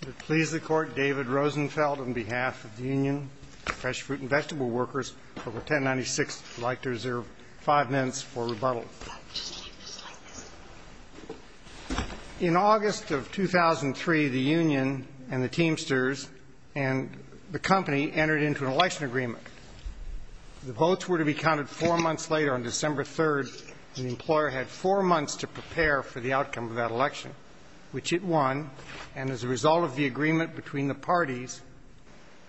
Would it please the Court, David Rosenfeld, on behalf of the Union, Fresh Fruit and Vegetable Workers, Club 1096 would like to reserve five minutes for rebuttal. In August of 2003, the Union and the Teamsters and the company entered into an election agreement. The votes were to be counted four months later, on December 3, and the employer had four months to prepare for the outcome of that election, which it won. And as a result of the agreement between the parties,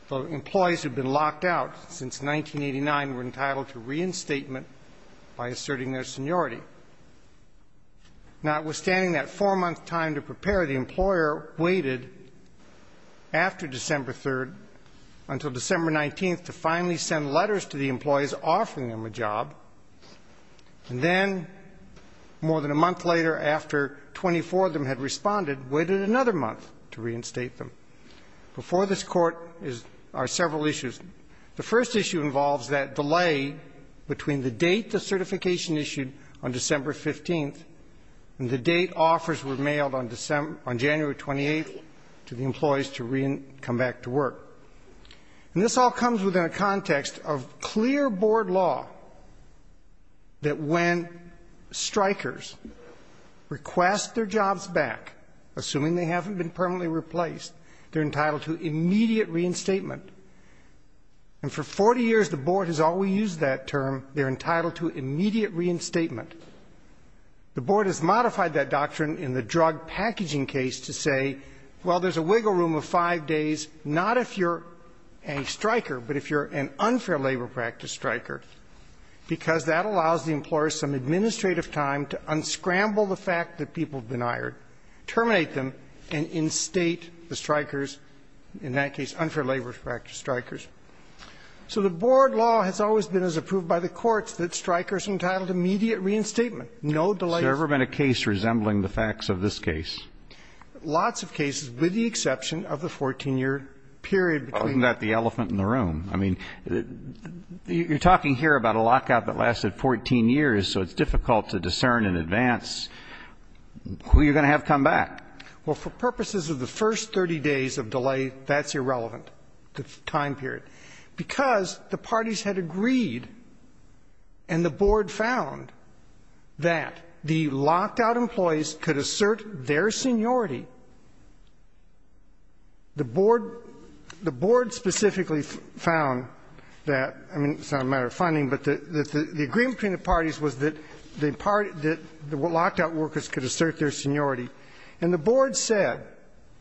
the employees who had been locked out since 1989 were entitled to reinstatement by asserting their seniority. Notwithstanding that four-month time to prepare, the employer waited after December 3 until December 19 to finally send letters to the employees offering them a job. And then, more than a month later, after 24 of them had responded, waited another month to reinstate them. Before this Court are several issues. The first issue involves that delay between the date the certification issued on December 15 and the date offers were mailed on January 28 to the employees to come back to work. And this all comes within a context of clear Board law that when strikers request their jobs back, assuming they haven't been permanently replaced, they're entitled to immediate reinstatement. And for 40 years the Board has always used that term, they're entitled to immediate reinstatement. The Board has modified that doctrine in the drug packaging case to say, well, there's a wiggle room of five days, not if you're a striker, but if you're an unfair labor practice striker, because that allows the employer some administrative time to unscramble the fact that people have been hired, terminate them, and instate the strikers, in that case unfair labor practice strikers. So the Board law has always been as approved by the courts that strikers are entitled to immediate reinstatement, no delay. Has there ever been a case resembling the facts of this case? Lots of cases, with the exception of the 14-year period. Isn't that the elephant in the room? I mean, you're talking here about a lockout that lasted 14 years, so it's difficult to discern in advance who you're going to have come back. Well, for purposes of the first 30 days of delay, that's irrelevant, the time period, because the parties had agreed and the Board found that the locked-out employees could assert their seniority. The Board specifically found that, I mean, it's not a matter of funding, but the agreement between the parties was that the locked-out workers could assert their seniority. And the Board said.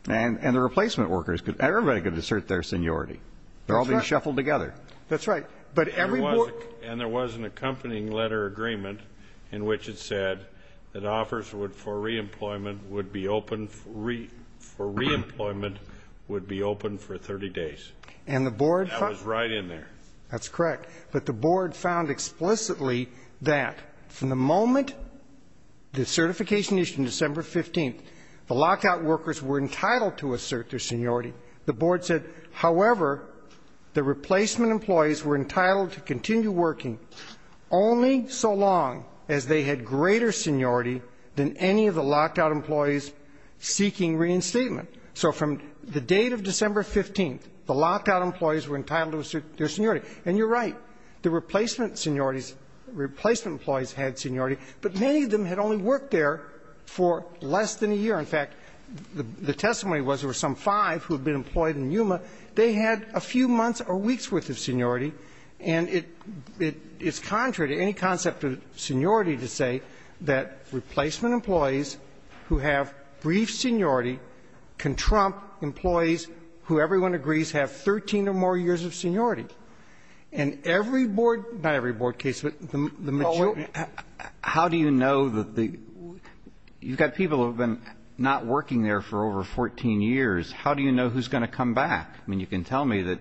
And the replacement workers, everybody could assert their seniority. They're all being shuffled together. That's right. But every board. And there was an accompanying letter agreement in which it said that offers for re-employment would be open for re-employment would be open for 30 days. And the Board. That was right in there. That's correct. But the Board found explicitly that from the moment the certification issued on December 15th, the locked-out workers were entitled to assert their seniority. The Board said, however, the replacement employees were entitled to continue working only so long as they had greater seniority than any of the locked-out employees seeking reinstatement. So from the date of December 15th, the locked-out employees were entitled to assert their seniority. And you're right. The replacement seniorities, replacement employees had seniority, but many of them had only worked there for less than a year. In fact, the testimony was there were some five who had been employed in Yuma. They had a few months or weeks' worth of seniority. And it's contrary to any concept of seniority to say that replacement employees who have brief seniority can trump employees who, everyone agrees, have 13 or more years of seniority. And every board – not every board case, but the majority of the board cases. But if you're not working there for over 14 years, how do you know who's going to come back? I mean, you can tell me that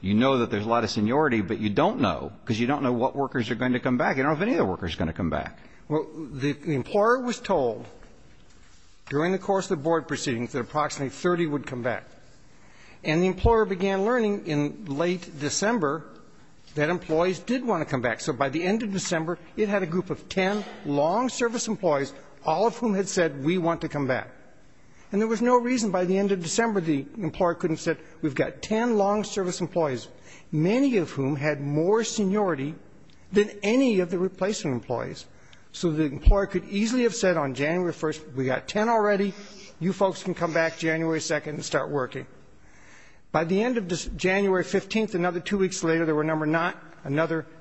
you know that there's a lot of seniority, but you don't know, because you don't know what workers are going to come back. You don't know if any of the workers are going to come back. Well, the employer was told during the course of the board proceedings that approximately 30 would come back. And the employer began learning in late December that employees did want to come back. So by the end of December, it had a group of ten long-service employees, all of whom had said, we want to come back. And there was no reason by the end of December the employer couldn't have said, we've got ten long-service employees, many of whom had more seniority than any of the replacement employees. So the employer could easily have said on January 1st, we've got ten already. You folks can come back January 2nd and start working. By the end of January 15th, another two weeks later, there were another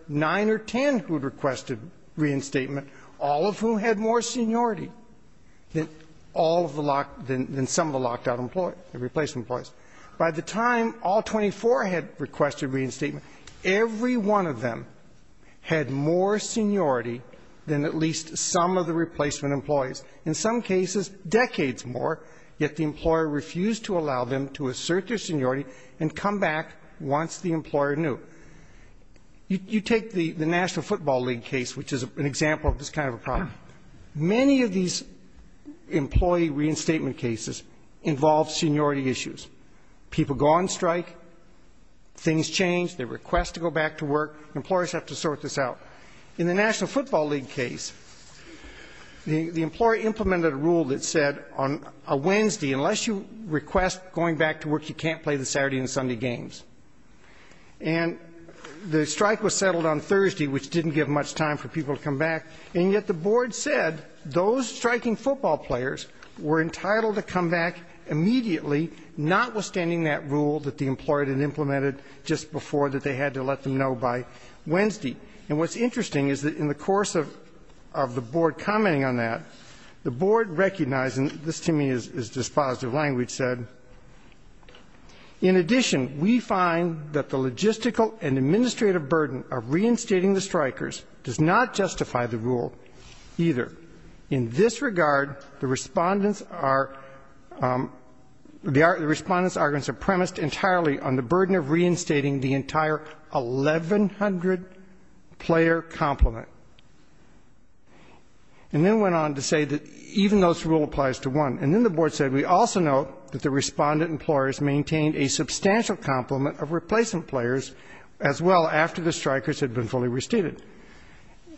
nine or ten who had requested reinstatement, all of whom had more seniority. All of them had more seniority than all of the locked – than some of the locked out employees, the replacement employees. By the time all 24 had requested reinstatement, every one of them had more seniority than at least some of the replacement employees. In some cases, decades more, yet the employer refused to allow them to assert their seniority and come back once the employer knew. You take the National Football League case, which is an example of this kind of a problem. Many of these employee reinstatement cases involve seniority issues. People go on strike, things change, they request to go back to work. Employers have to sort this out. In the National Football League case, the employer implemented a rule that said on a Wednesday, unless you request going back to work, you can't play the Saturday and Sunday games. And the strike was settled on Thursday, which didn't give much time for people to come back. And yet the board said those striking football players were entitled to come back immediately, notwithstanding that rule that the employer had implemented just before that they had to let them know by Wednesday. And what's interesting is that in the course of the board commenting on that, the board recognized, and this to me is dispositive language said, in addition, we find that the logistical and administrative burden of reinstating the strikers does not justify the rule either. In this regard, the respondents are premised entirely on the burden of reinstating the entire 1,100-player complement. And then went on to say that even those rule applies to one. And then the board said we also note that the respondent employers maintained a substantial complement of replacement players as well after the strikers had been fully restated.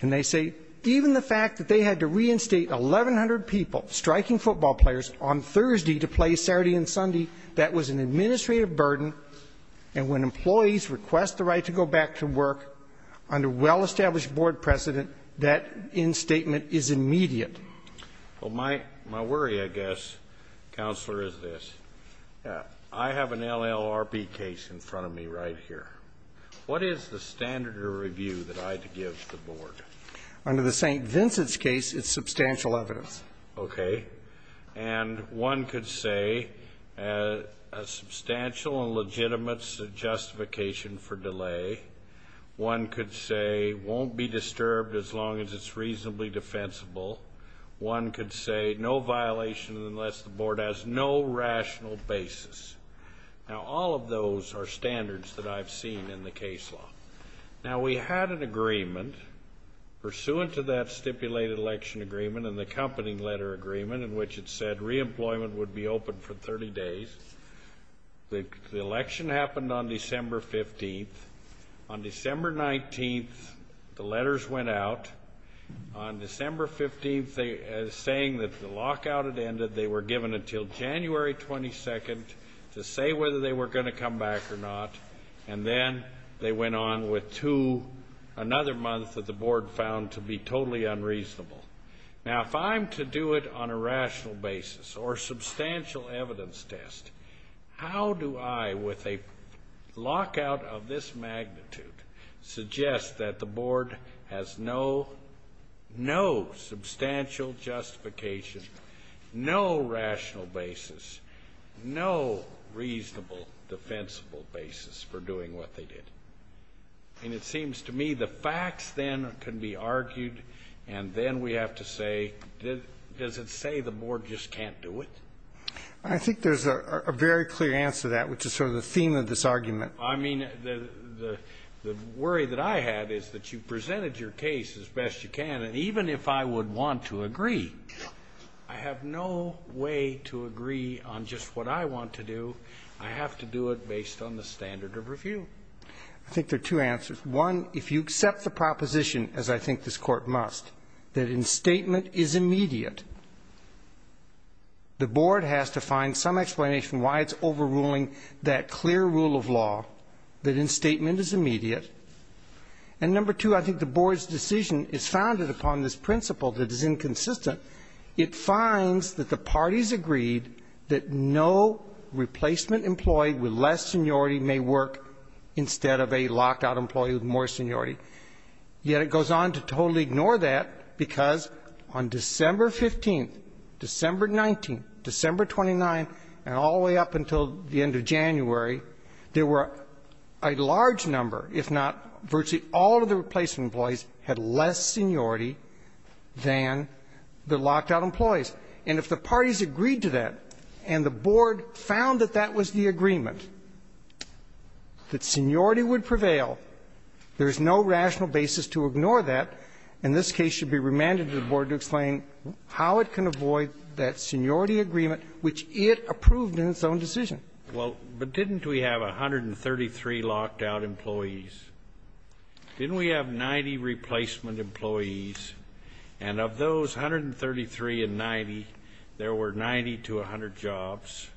And they say even the fact that they had to reinstate 1,100 people, striking football players, on Thursday to play Saturday and Sunday, that was an administrative burden, and when employees request the right to go back to work under well-established board precedent, that instatement is immediate. Well, my worry, I guess, Counselor, is this. I have an LLRB case in front of me right here. What is the standard of review that I give to the board? Under the St. Vincent's case, it's substantial evidence. Okay. And one could say a substantial and legitimate justification for delay. One could say won't be disturbed as long as it's reasonably defensible. One could say no violation unless the board has no rational basis. Now, all of those are standards that I've seen in the case law. Now, we had an agreement pursuant to that stipulated election agreement and the accompanying letter agreement in which it said reemployment would be open for 30 days. The election happened on December 15th. On December 19th, the letters went out. On December 15th, saying that the lockout had ended, they were given until January 22nd to say whether they were going to come back or not, and then they went on with another month that the board found to be totally unreasonable. Now, if I'm to do it on a rational basis or substantial evidence test, how do I, with a lockout of this magnitude, suggest that the board has no substantial justification, no rational basis, no reasonable defensible basis for doing what they did? And it seems to me the facts then can be argued and then we have to say, does it say the board just can't do it? I think there's a very clear answer to that, which is sort of the theme of this argument. I mean, the worry that I had is that you presented your case as best you can, and even if I would want to agree, I have no way to agree on just what I want to do. I have to do it based on the standard of review. I think there are two answers. One, if you accept the proposition, as I think this Court must, that instatement is immediate, the board has to find some explanation why it's overruling that clear rule of law, that instatement is immediate. And number two, I think the board's decision is founded upon this principle that is inconsistent. It finds that the parties agreed that no replacement employee with less seniority may work instead of a locked-out employee with more seniority. Yet it goes on to totally ignore that because on December 15th, December 19th, December 29th, and all the way up until the end of January, there were a large number, if not virtually all of the replacement employees, had less seniority than the locked-out employees. And if the parties agreed to that and the board found that that was the agreement, that seniority would prevail, there is no rational basis to ignore that, and this case should be remanded to the board to explain how it can avoid that seniority agreement which it approved in its own decision. Well, but didn't we have 133 locked-out employees? Didn't we have 90 replacement employees? And of those 133 and 90, there were 90 to 100 jobs.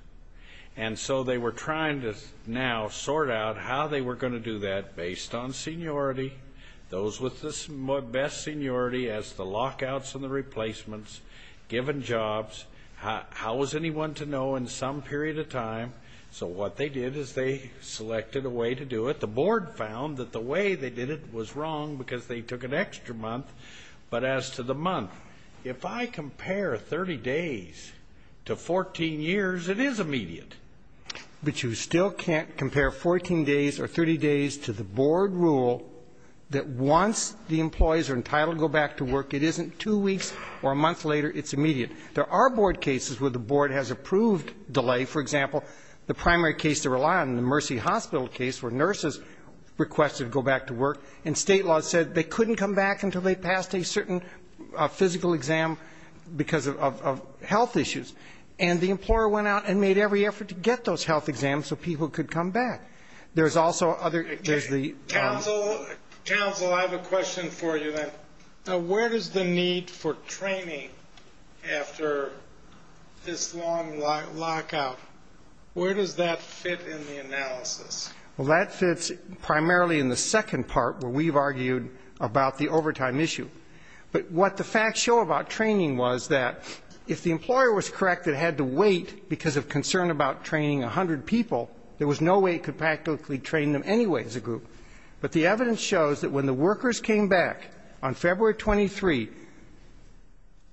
And so they were trying to now sort out how they were going to do that based on seniority, those with the best seniority as the lock-outs and the replacements given jobs. How was anyone to know in some period of time? So what they did is they selected a way to do it. But the board found that the way they did it was wrong because they took an extra month. But as to the month, if I compare 30 days to 14 years, it is immediate. But you still can't compare 14 days or 30 days to the board rule that once the employees are entitled to go back to work, it isn't two weeks or a month later, it's immediate. There are board cases where the board has approved delay. For example, the primary case to rely on in the Mercy Hospital case where nurses requested to go back to work and state law said they couldn't come back until they passed a certain physical exam because of health issues. And the employer went out and made every effort to get those health exams so people could come back. There's also other ‑‑ Council, I have a question for you then. Now, where does the need for training after this long lockout, where does that fit in the analysis? Well, that fits primarily in the second part where we've argued about the overtime issue. But what the facts show about training was that if the employer was correct and had to wait because of concern about training 100 people, there was no way it could practically train them anyway as a group. But the evidence shows that when the workers came back on February 23,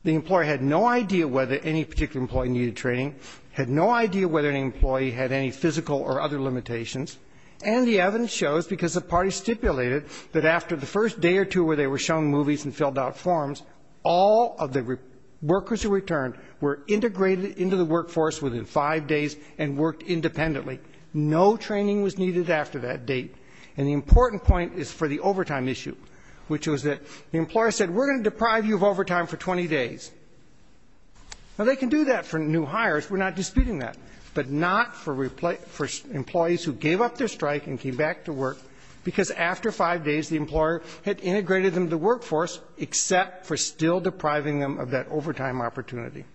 the employer had no idea whether any particular employee needed training, had no idea whether an employee had any physical or other limitations, and the evidence shows, because the parties stipulated, that after the first day or two where they were shown movies and filled out forms, all of the workers who returned were integrated into the workforce within five days and worked independently. No training was needed after that date. And the important point is for the overtime issue, which was that the employer said, we're going to deprive you of overtime for 20 days. Now, they can do that for new hires, we're not disputing that, but not for employees who gave up their strike and came back to work because after five days the employer had integrated them into the workforce except for still depriving them of that overtime opportunity.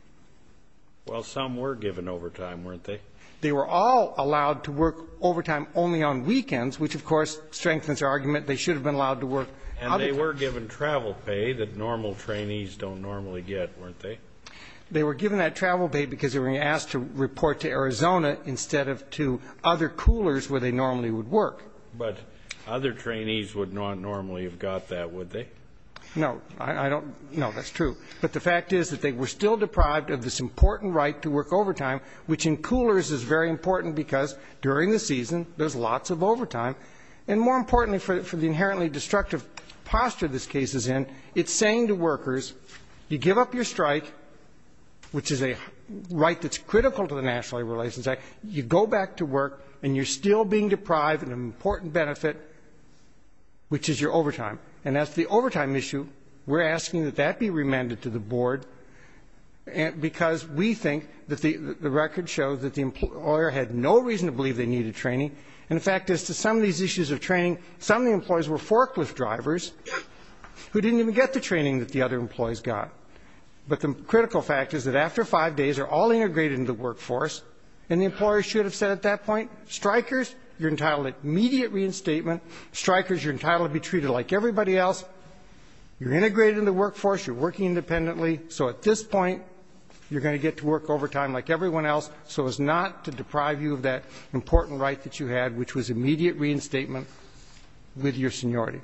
Well, some were given overtime, weren't they? They were all allowed to work overtime only on weekends, which, of course, strengthens our argument they should have been allowed to work other times. And they were given travel pay that normal trainees don't normally get, weren't they? They were given that travel pay because they were asked to report to Arizona instead of to other coolers where they normally would work. But other trainees would not normally have got that, would they? No. I don't know. That's true. But the fact is that they were still deprived of this important right to work overtime, which in coolers is very important because during the season there's lots of overtime. And more importantly, for the inherently destructive posture this case is in, it's saying to workers you give up your strike, which is a right that's critical to the National Labor Relations Act, you go back to work and you're still being deprived of an important benefit, which is your overtime. And that's the overtime issue. We're asking that that be remanded to the board because we think that the record shows that the employer had no reason to believe they needed training. And the fact is to some of these issues of training, some of the employees were forklift drivers who didn't even get the training that the other employees got. But the critical fact is that after five days they're all integrated into the workforce, and the employer should have said at that point, strikers, you're entitled to immediate reinstatement. Strikers, you're entitled to be treated like everybody else. You're integrated in the workforce. You're working independently. So at this point, you're going to get to work overtime like everyone else so as not to deprive you of that important right that you had, which was immediate reinstatement with your seniority.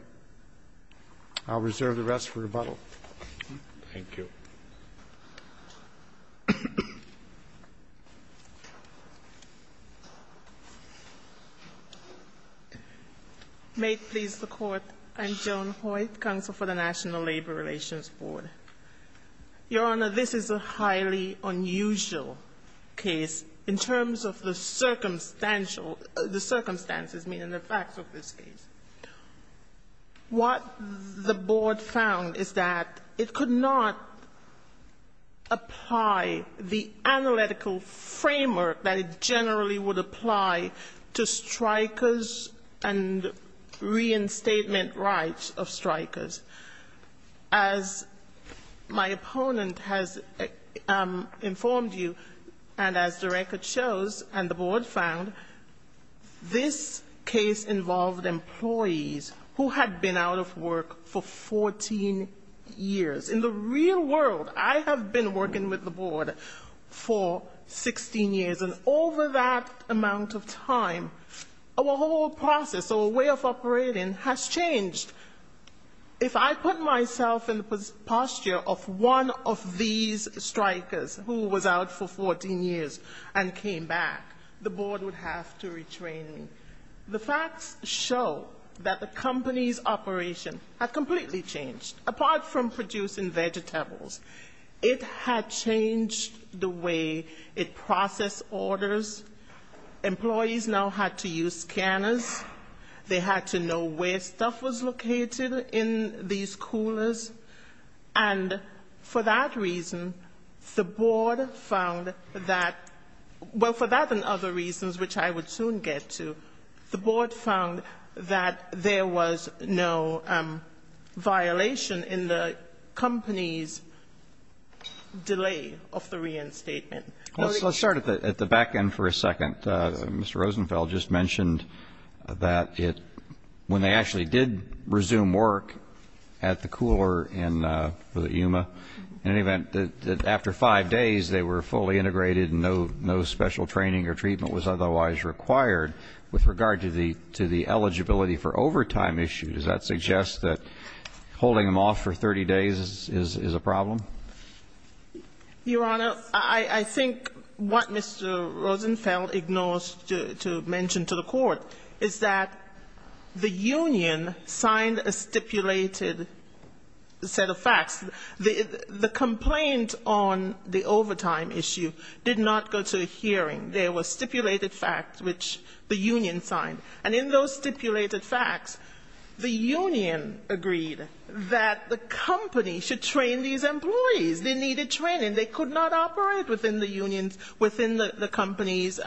I'll reserve the rest for rebuttal. Thank you. May it please the Court. I'm Joan Hoyt, counsel for the National Labor Relations Board. Your Honor, this is a highly unusual case in terms of the circumstantial circumstances, meaning the facts of this case. What the board found is that it could not apply the analytical framework that it generally would apply to strikers and reinstatement rights of strikers as my opponent has informed you, and as the record shows and the board found, this case involved employees who had been out of work for 14 years. In the real world, I have been working with the board for 16 years, and over that amount of time, our whole process, our way of operating has changed. If I put myself in the posture of one of these strikers who was out for 14 years and came back, the board would have to retrain me. The facts show that the company's operation had completely changed. Apart from producing vegetables, it had changed the way it processed orders. Employees now had to use scanners. They had to know where stuff was located in these coolers. And for that reason, the board found that well, for that and other reasons, which I would soon get to, the board found that there was no violation in the company's delay of the reinstatement. Let's start at the back end for a second. Mr. Rosenfeld just mentioned that when they actually did resume work at the cooler in Yuma, in any event, that after five days, they were fully integrated and no special training or treatment was otherwise required. With regard to the eligibility for overtime issue, does that suggest that holding them off for 30 days is a problem? Your Honor, I think what Mr. Rosenfeld ignores to mention to the court is that the union signed a stipulated set of facts. The complaint on the overtime issue did not go to a hearing. There were stipulated facts which the union signed. And in those stipulated facts, the union agreed that the company should train these employees. They needed training. They could not operate within the unions, within the company's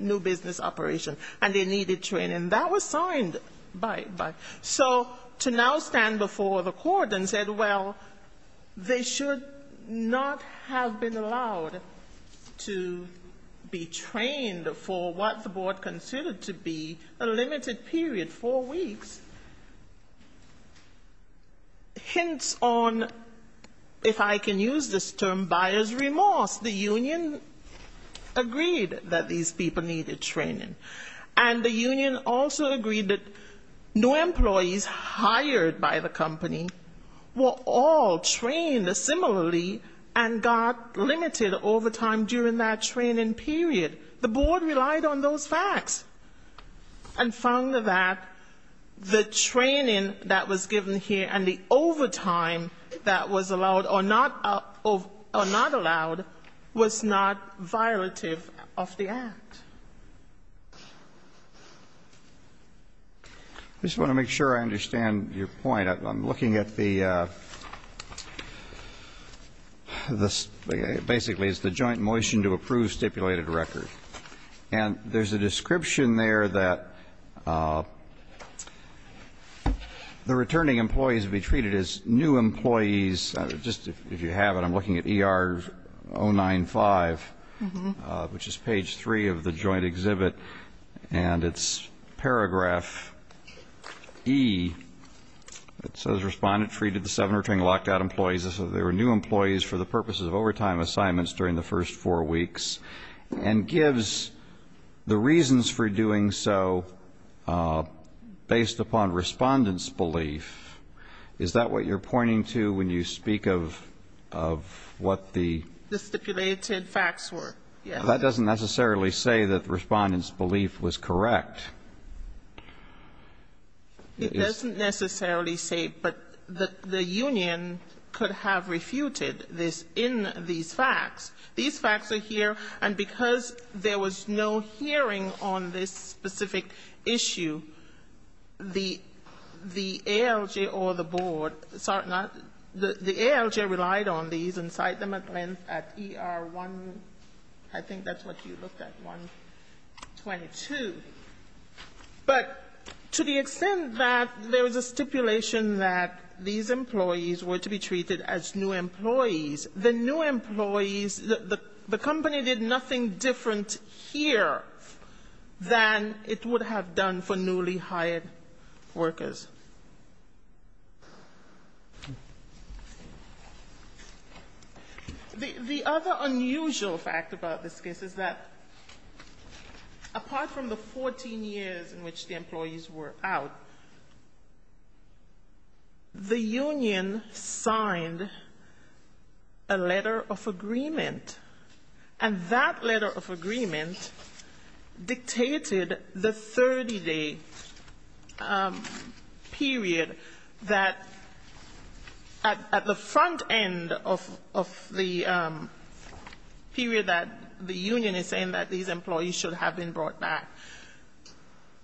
new business operation, and they needed training. That was signed by. So to now stand before the court and say, well, they should not have been allowed to be trained for what the board considered to be a limited period, four weeks, hints on, if I can use this term, buyer's remorse. The union agreed that these people needed training. And the union also agreed that new employees hired by the company were all trained similarly and got limited overtime during that training period. The board relied on those facts and found that the training that was given here and the overtime that was allowed or not allowed was not violative of the act. I just want to make sure I understand your point. I'm looking at the, basically, it's the joint motion to approve stipulated record. And there's a description there that the returning employees would be treated as new employees. Just if you have it, I'm looking at ER095, which is page 3 of the joint exhibit. And it's paragraph E. It says respondent treated the seven returning locked out employees as if they were new employees for the purposes of overtime assignments during the first four weeks. And gives the reasons for doing so based upon respondent's belief. Is that what you're pointing to when you speak of what the ---- The stipulated facts were. That doesn't necessarily say that the respondent's belief was correct. It doesn't necessarily say, but the union could have refuted this in these facts. These facts are here. And because there was no hearing on this specific issue, the ALJ or the board, the ALJ relied on these and cite them at length at ER1, I think that's what you looked at, 122. But to the extent that there was a stipulation that these employees were to be treated as new employees, the new employees, the company did nothing different here than it would have done for newly hired workers. The other unusual fact about this case is that apart from the 14 years in which the employees were out, the union signed a letter of agreement. And that letter of agreement dictated the 30-day period that at the front end of the period that the union is saying that these employees should have been brought back,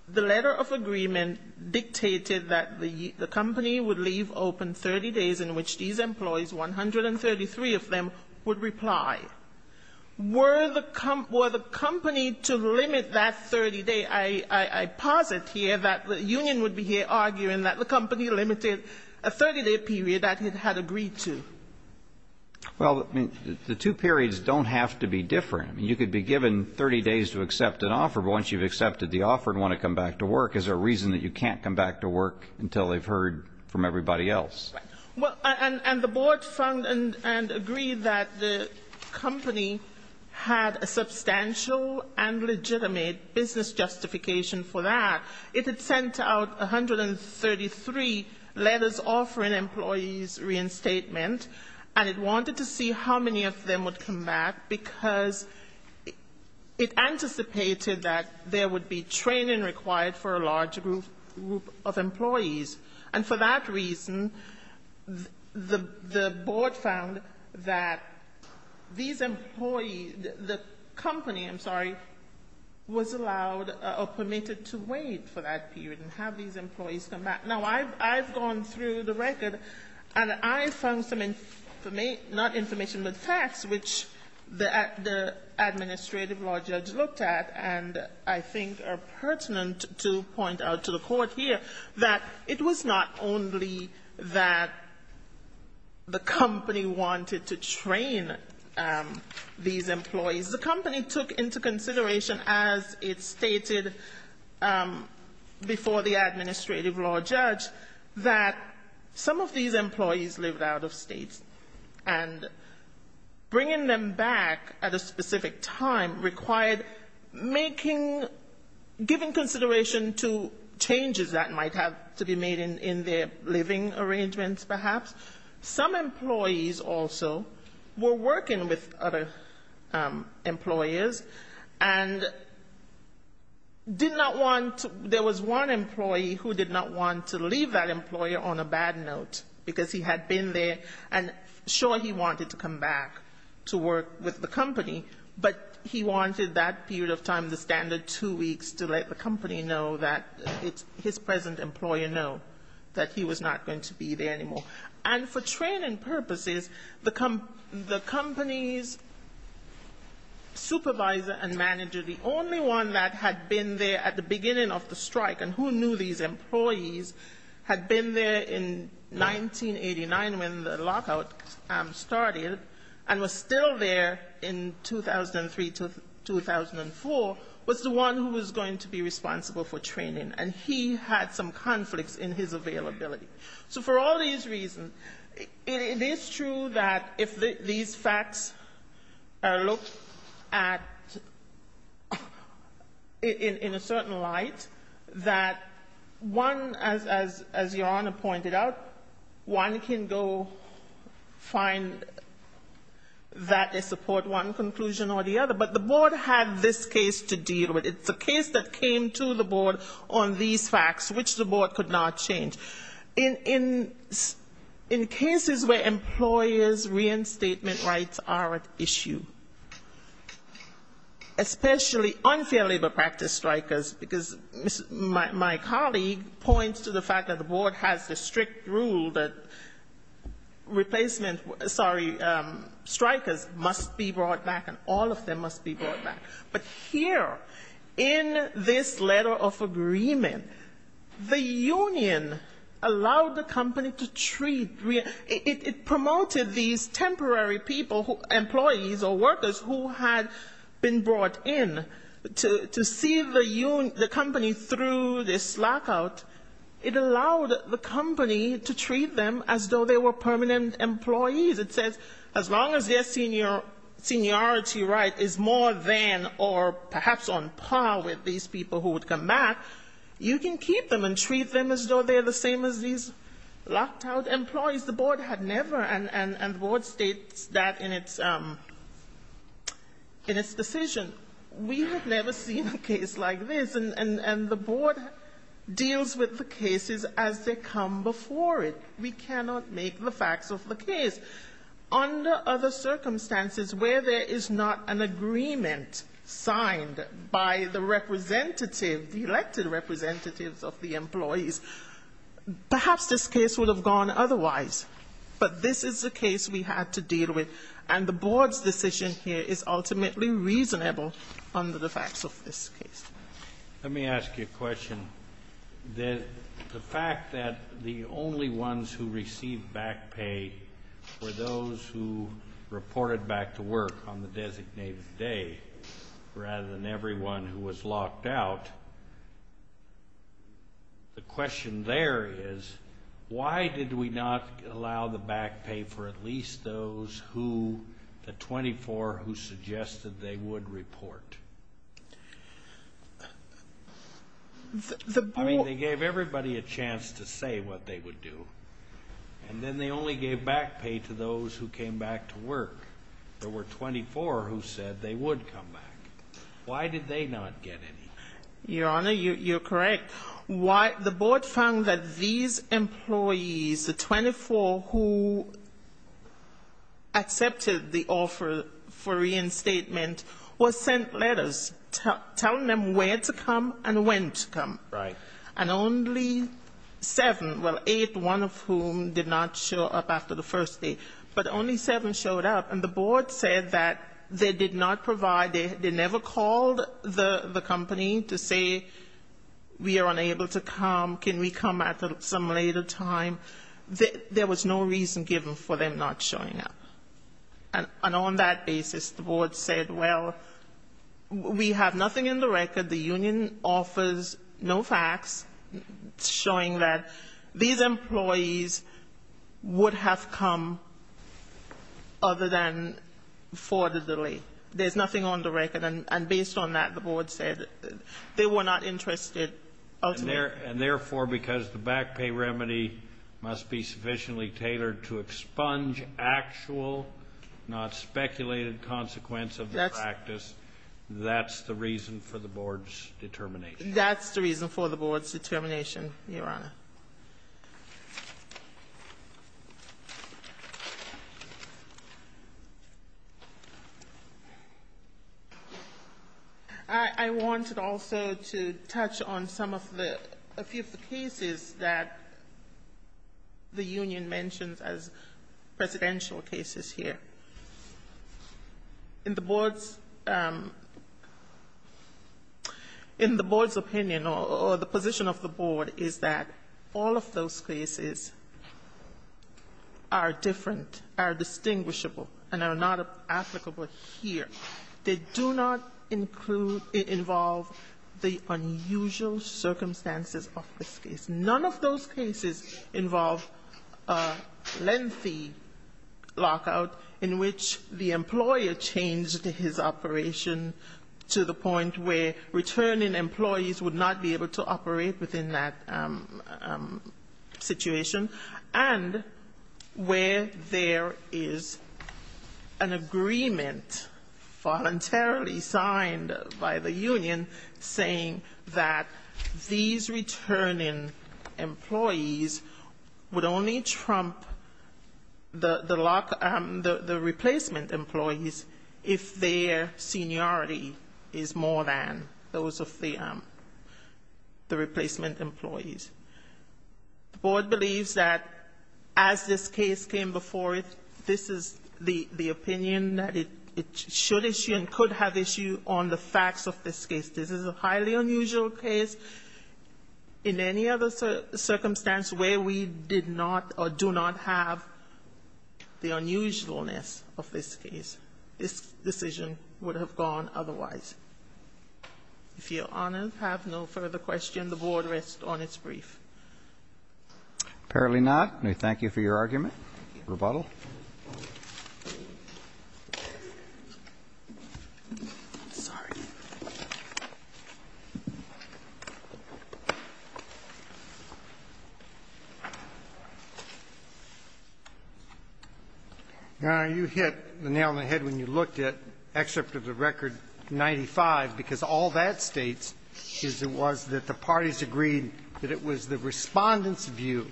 the letter of agreement dictated that the company would leave open 30 days in which these employees, 133 of them, would reply. Were the company to limit that 30-day, I posit here that the union would be here arguing that the company limited a 30-day period that it had agreed to. Well, the two periods don't have to be different. You could be given 30 days to accept an offer, but once you've accepted the offer and want to come back to work, is there a reason that you can't come back to work until they've heard from everybody else? And the board found and agreed that the company had a substantial and legitimate business justification for that. It had sent out 133 letters offering employees reinstatement, and it wanted to see how many of them would come back, because it anticipated that there would be training required for a large group of employees. And for that reason, the board found that these employees, the company, I'm sorry, was allowed or permitted to wait for that period and have these employees come back. Now, I've gone through the record, and I found some information, not information, but facts, which the administrative law judge looked at, and I think are pertinent to point out to the Court here, that it was not only that the company wanted to train these employees. The company took into consideration, as it stated before the administrative law judge, that some of these employees lived out of state, and bringing them back at a specific time required making, giving consideration to changes that might have to be made in their living arrangements, perhaps. Some employees also were working with other employers and did not want to, there was one employee who did not want to leave the company. He did not want to leave that employer on a bad note, because he had been there, and sure, he wanted to come back to work with the company, but he wanted that period of time, the standard two weeks, to let the company know that, his present employer know that he was not going to be there anymore. And for training purposes, the company's supervisor and manager, the only one that had been there at the beginning of the strike, and who knew these employees, had been there in 1989 when the lockout started, and was still there in 2003-2004, was the one who was going to be responsible for training. And he had some conflicts in his availability. So for all these reasons, it is true that if these facts are looked at in a certain light, it is true that the company is responsible for training, that one, as Your Honor pointed out, one can go find that they support one conclusion or the other. But the Board had this case to deal with. It's a case that came to the Board on these facts, which the Board could not change. In cases where employers' reinstatement rights are at issue, especially unfair labor practice strikers, because my colleague points to the fact that the Board has the strict rule that replacement, sorry, strikers must be brought back, and all of them must be brought back. But here, in this letter of agreement, the union allowed the company to treat, it promoted these temporary people, employees or workers who had been brought in, to see the company through the lockout, it allowed the company to treat them as though they were permanent employees. It says as long as their seniority right is more than or perhaps on par with these people who would come back, you can keep them and treat them as though they're the same as these locked out employees. The Board had never, and the Board states that in its decision, we have never seen a case like this. And the Board deals with the cases as they come before it. We cannot make the facts of the case. Under other circumstances, where there is not an agreement signed by the representative, the elected representatives of the employees, perhaps this case would have gone otherwise. But this is a case we had to deal with. And the Board's decision here is ultimately reasonable under the facts of this case. Let me ask you a question. The fact that the only ones who received back pay were those who reported back to work on the designated day, rather than everyone who was locked out, the question there is, why did we not allow the back pay for at least those who, the 24 who suggested they would report? I mean, they gave everybody a chance to say what they would do. And then they only gave back pay to those who came back to work. There were 24 who said they would come back. Why did they not get any? The only one who accepted the offer for reinstatement was sent letters telling them where to come and when to come. And only seven, well, eight, one of whom did not show up after the first day. But only seven showed up. And the Board said that they did not provide, they never called the company to say we are unable to come, can we come at some later time. There was no reason given for them not showing up. And on that basis, the Board said, well, we have nothing in the record. The union offers no facts showing that these employees would have come other than for the delay. There's nothing on the record. And based on that, the Board said they were not interested ultimately. And therefore, because the back pay remedy must be sufficiently tailored to expunge actual, not speculated consequence of the practice, that's the reason for the Board's determination. That's the reason for the Board's determination, Your Honor. I wanted also to touch on some of the, a few of the cases that the union mentions as presidential cases here. In the case of the Lockout, all of those cases are different, are distinguishable, and are not applicable here. They do not include, involve the unusual circumstances of this case. None of those cases involve lengthy lockout in which the employer changed his operation to the point where returning employees would not be able to operate within that situation, and where there is an agreement voluntarily signed by the union saying that these returning employees would only trump the replacement employees if their seniority is more than those of the replacement employees. The Board believes that as this case came before it, this is the opinion that it should issue and could have issue on the facts of this case. This is a highly unusual case. In any other circumstance where we did not or do not have the unusualness of this case, this decision would have gone otherwise. If Your Honor have no further question, the Board rests on its brief. Apparently not. And we thank you for your argument. Rebuttal. I'm sorry. Your Honor, you hit the nail on the head when you looked at Excerpt of the Record 95, because all that states is it was that the parties agreed that it was the respondent's view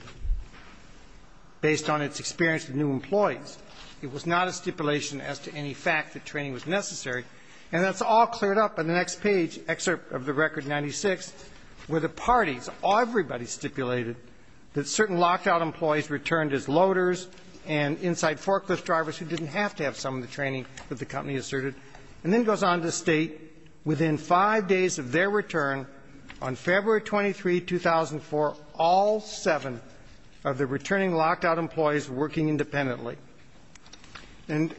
based on its experience with new employers. It was not a stipulation as to any fact that training was necessary. And that's all cleared up in the next page, Excerpt of the Record 96, where the parties, everybody stipulated that certain locked out employees returned as loaders and inside forklift drivers who didn't have to have some of the training that the company asserted. And then it goes on to state, within five days of their return, on February 23, 2004, all seven of the returning locked out employees were working independently. And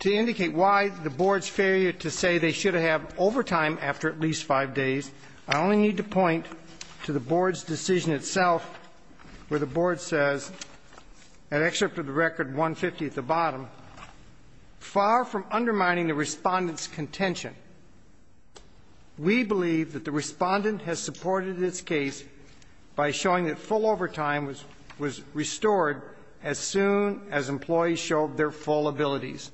to indicate why the Board's failure to say they should have overtime after at least five days, I only need to point to the Board's decision itself, where the Board says, in Excerpt of the Record 150 at the bottom, far from undermining the respondent's contention, we believe that the respondent has supported its case by showing that full overtime was restored as soon as employees returned. And that the employees showed their full abilities.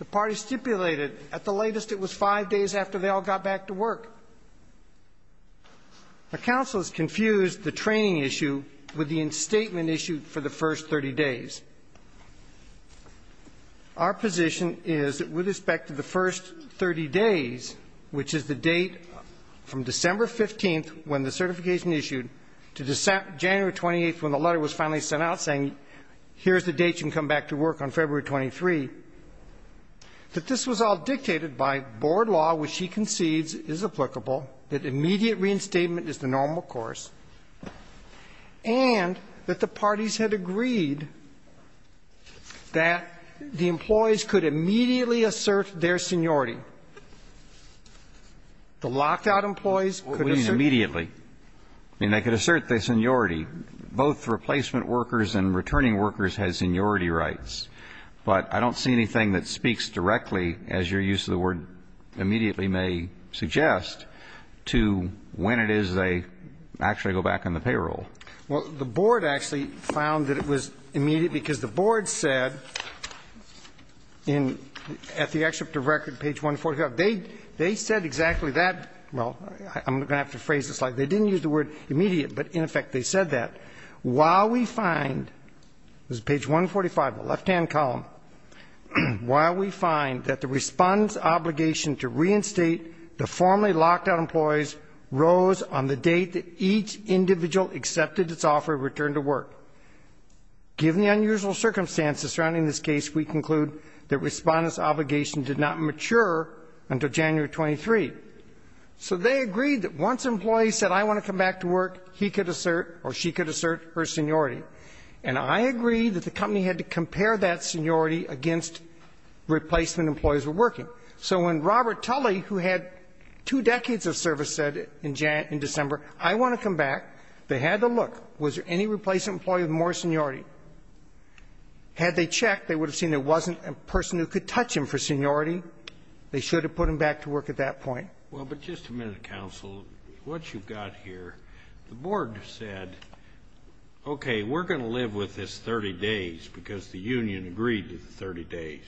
The parties stipulated, at the latest, it was five days after they all got back to work. The counsels confused the training issue with the instatement issue for the first 30 days. Our position is, with respect to the first 30 days, which is the date from December 15, when the certification issued, to January 28, when the letter was issued, to February 23, that this was all dictated by Board law, which he concedes is applicable, that immediate reinstatement is the normal course, and that the parties had agreed that the employees could immediately assert their seniority. The locked out employees could assert their seniority. Both replacement workers and returning workers had seniority rights. But I don't see anything that speaks directly, as your use of the word immediately may suggest, to when it is they actually go back on the payroll. Well, the Board actually found that it was immediate, because the Board said, at the Excerpt of the Record, page 145, they said exactly that while we find, this is page 145, the left-hand column, while we find that the respondent's obligation to reinstate the formerly locked out employees rose on the date that each individual accepted its offer to return to work. Given the unusual circumstances surrounding this case, we conclude that the Board had agreed that once an employee said, I want to come back to work, he could assert or she could assert her seniority. And I agree that the company had to compare that seniority against replacement employees who were working. So when Robert Tully, who had two decades of service, said in December, I want to come back, they had to look, was there any replacement employee with more seniority? Had they checked, they would have seen there wasn't a person who could touch him for seniority. They should have put him back to work at that point. Well, but just a minute, Counsel. What you've got here, the Board said, okay, we're going to live with this 30 days, because the union agreed to the 30 days.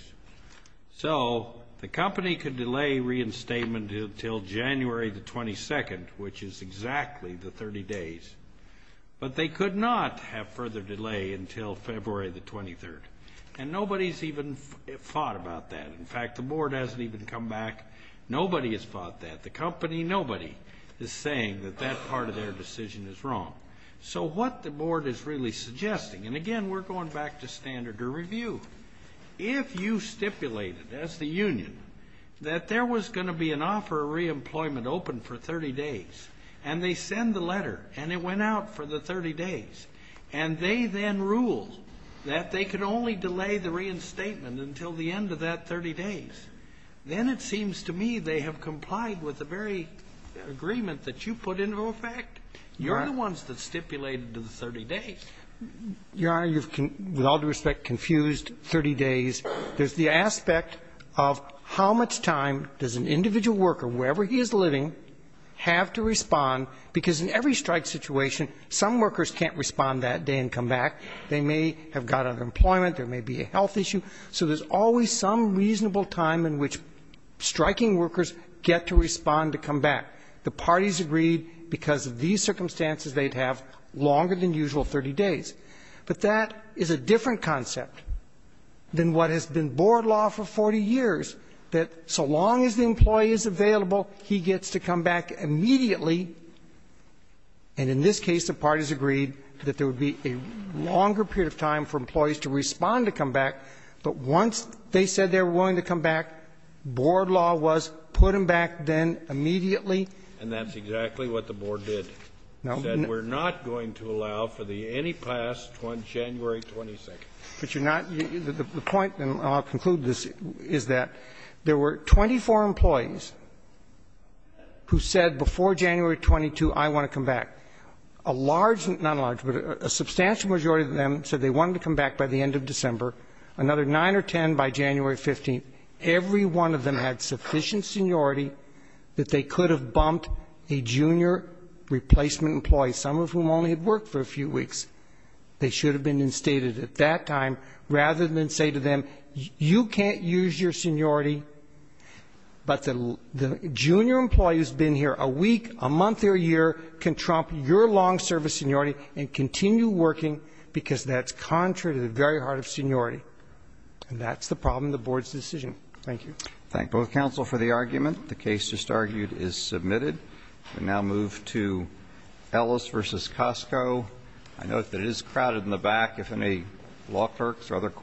So the company could delay reinstatement until January the 22nd, which is exactly the 30 days. But they could not have further delay until February the 23rd. And nobody's even thought about that. In fact, the Board hasn't even come back. Nobody has thought that. The company, nobody is saying that that part of their decision is wrong. So what the Board is really suggesting, and again, we're going back to standard to review. If you stipulated, as the union, that there was going to be an offer of reemployment open for 30 days, and they send the letter, and it went out for the 30 days, and they then ruled that they could only delay the reinstatement until the end of that 30 days, then it seems to me they have complied with the very agreement that you put into effect. You're the ones that stipulated the 30 days. Your Honor, you've, with all due respect, confused 30 days. There's the aspect of how much time does an individual worker, wherever he is living, have to respond, because in every strike situation, some workers can't respond that day and come back. They may have got unemployment, there may be a health issue, so there's always some reasonable time in which striking workers get to respond to come back. The parties agreed because of these circumstances they'd have longer than usual 30 days. But that is a different concept than what has been Board law for 40 years, that so long as the employee is available, he gets to come back immediately, and in this case, the parties agreed that there would be a longer period of time for employees to respond to come back than 30 days. But once they said they were willing to come back, Board law was put him back then immediately. And that's exactly what the Board did. No. It said we're not going to allow for the any past January 22nd. But you're not the point, and I'll conclude this, is that there were 24 employees who said before January 22, I want to come back. A large but a substantial majority of them said they wanted to come back by the end of December. Another 9 or 10 by January 15, every one of them had sufficient seniority that they could have bumped a junior replacement employee, some of whom only had worked for a few weeks. They should have been instated at that time rather than say to them, you can't use your seniority, but the junior employee who's been here a week, a month or a year, can trump your long service seniority and continue working because that's contrary to the very heart of seniority. And that's the problem with the Board's decision. Thank you.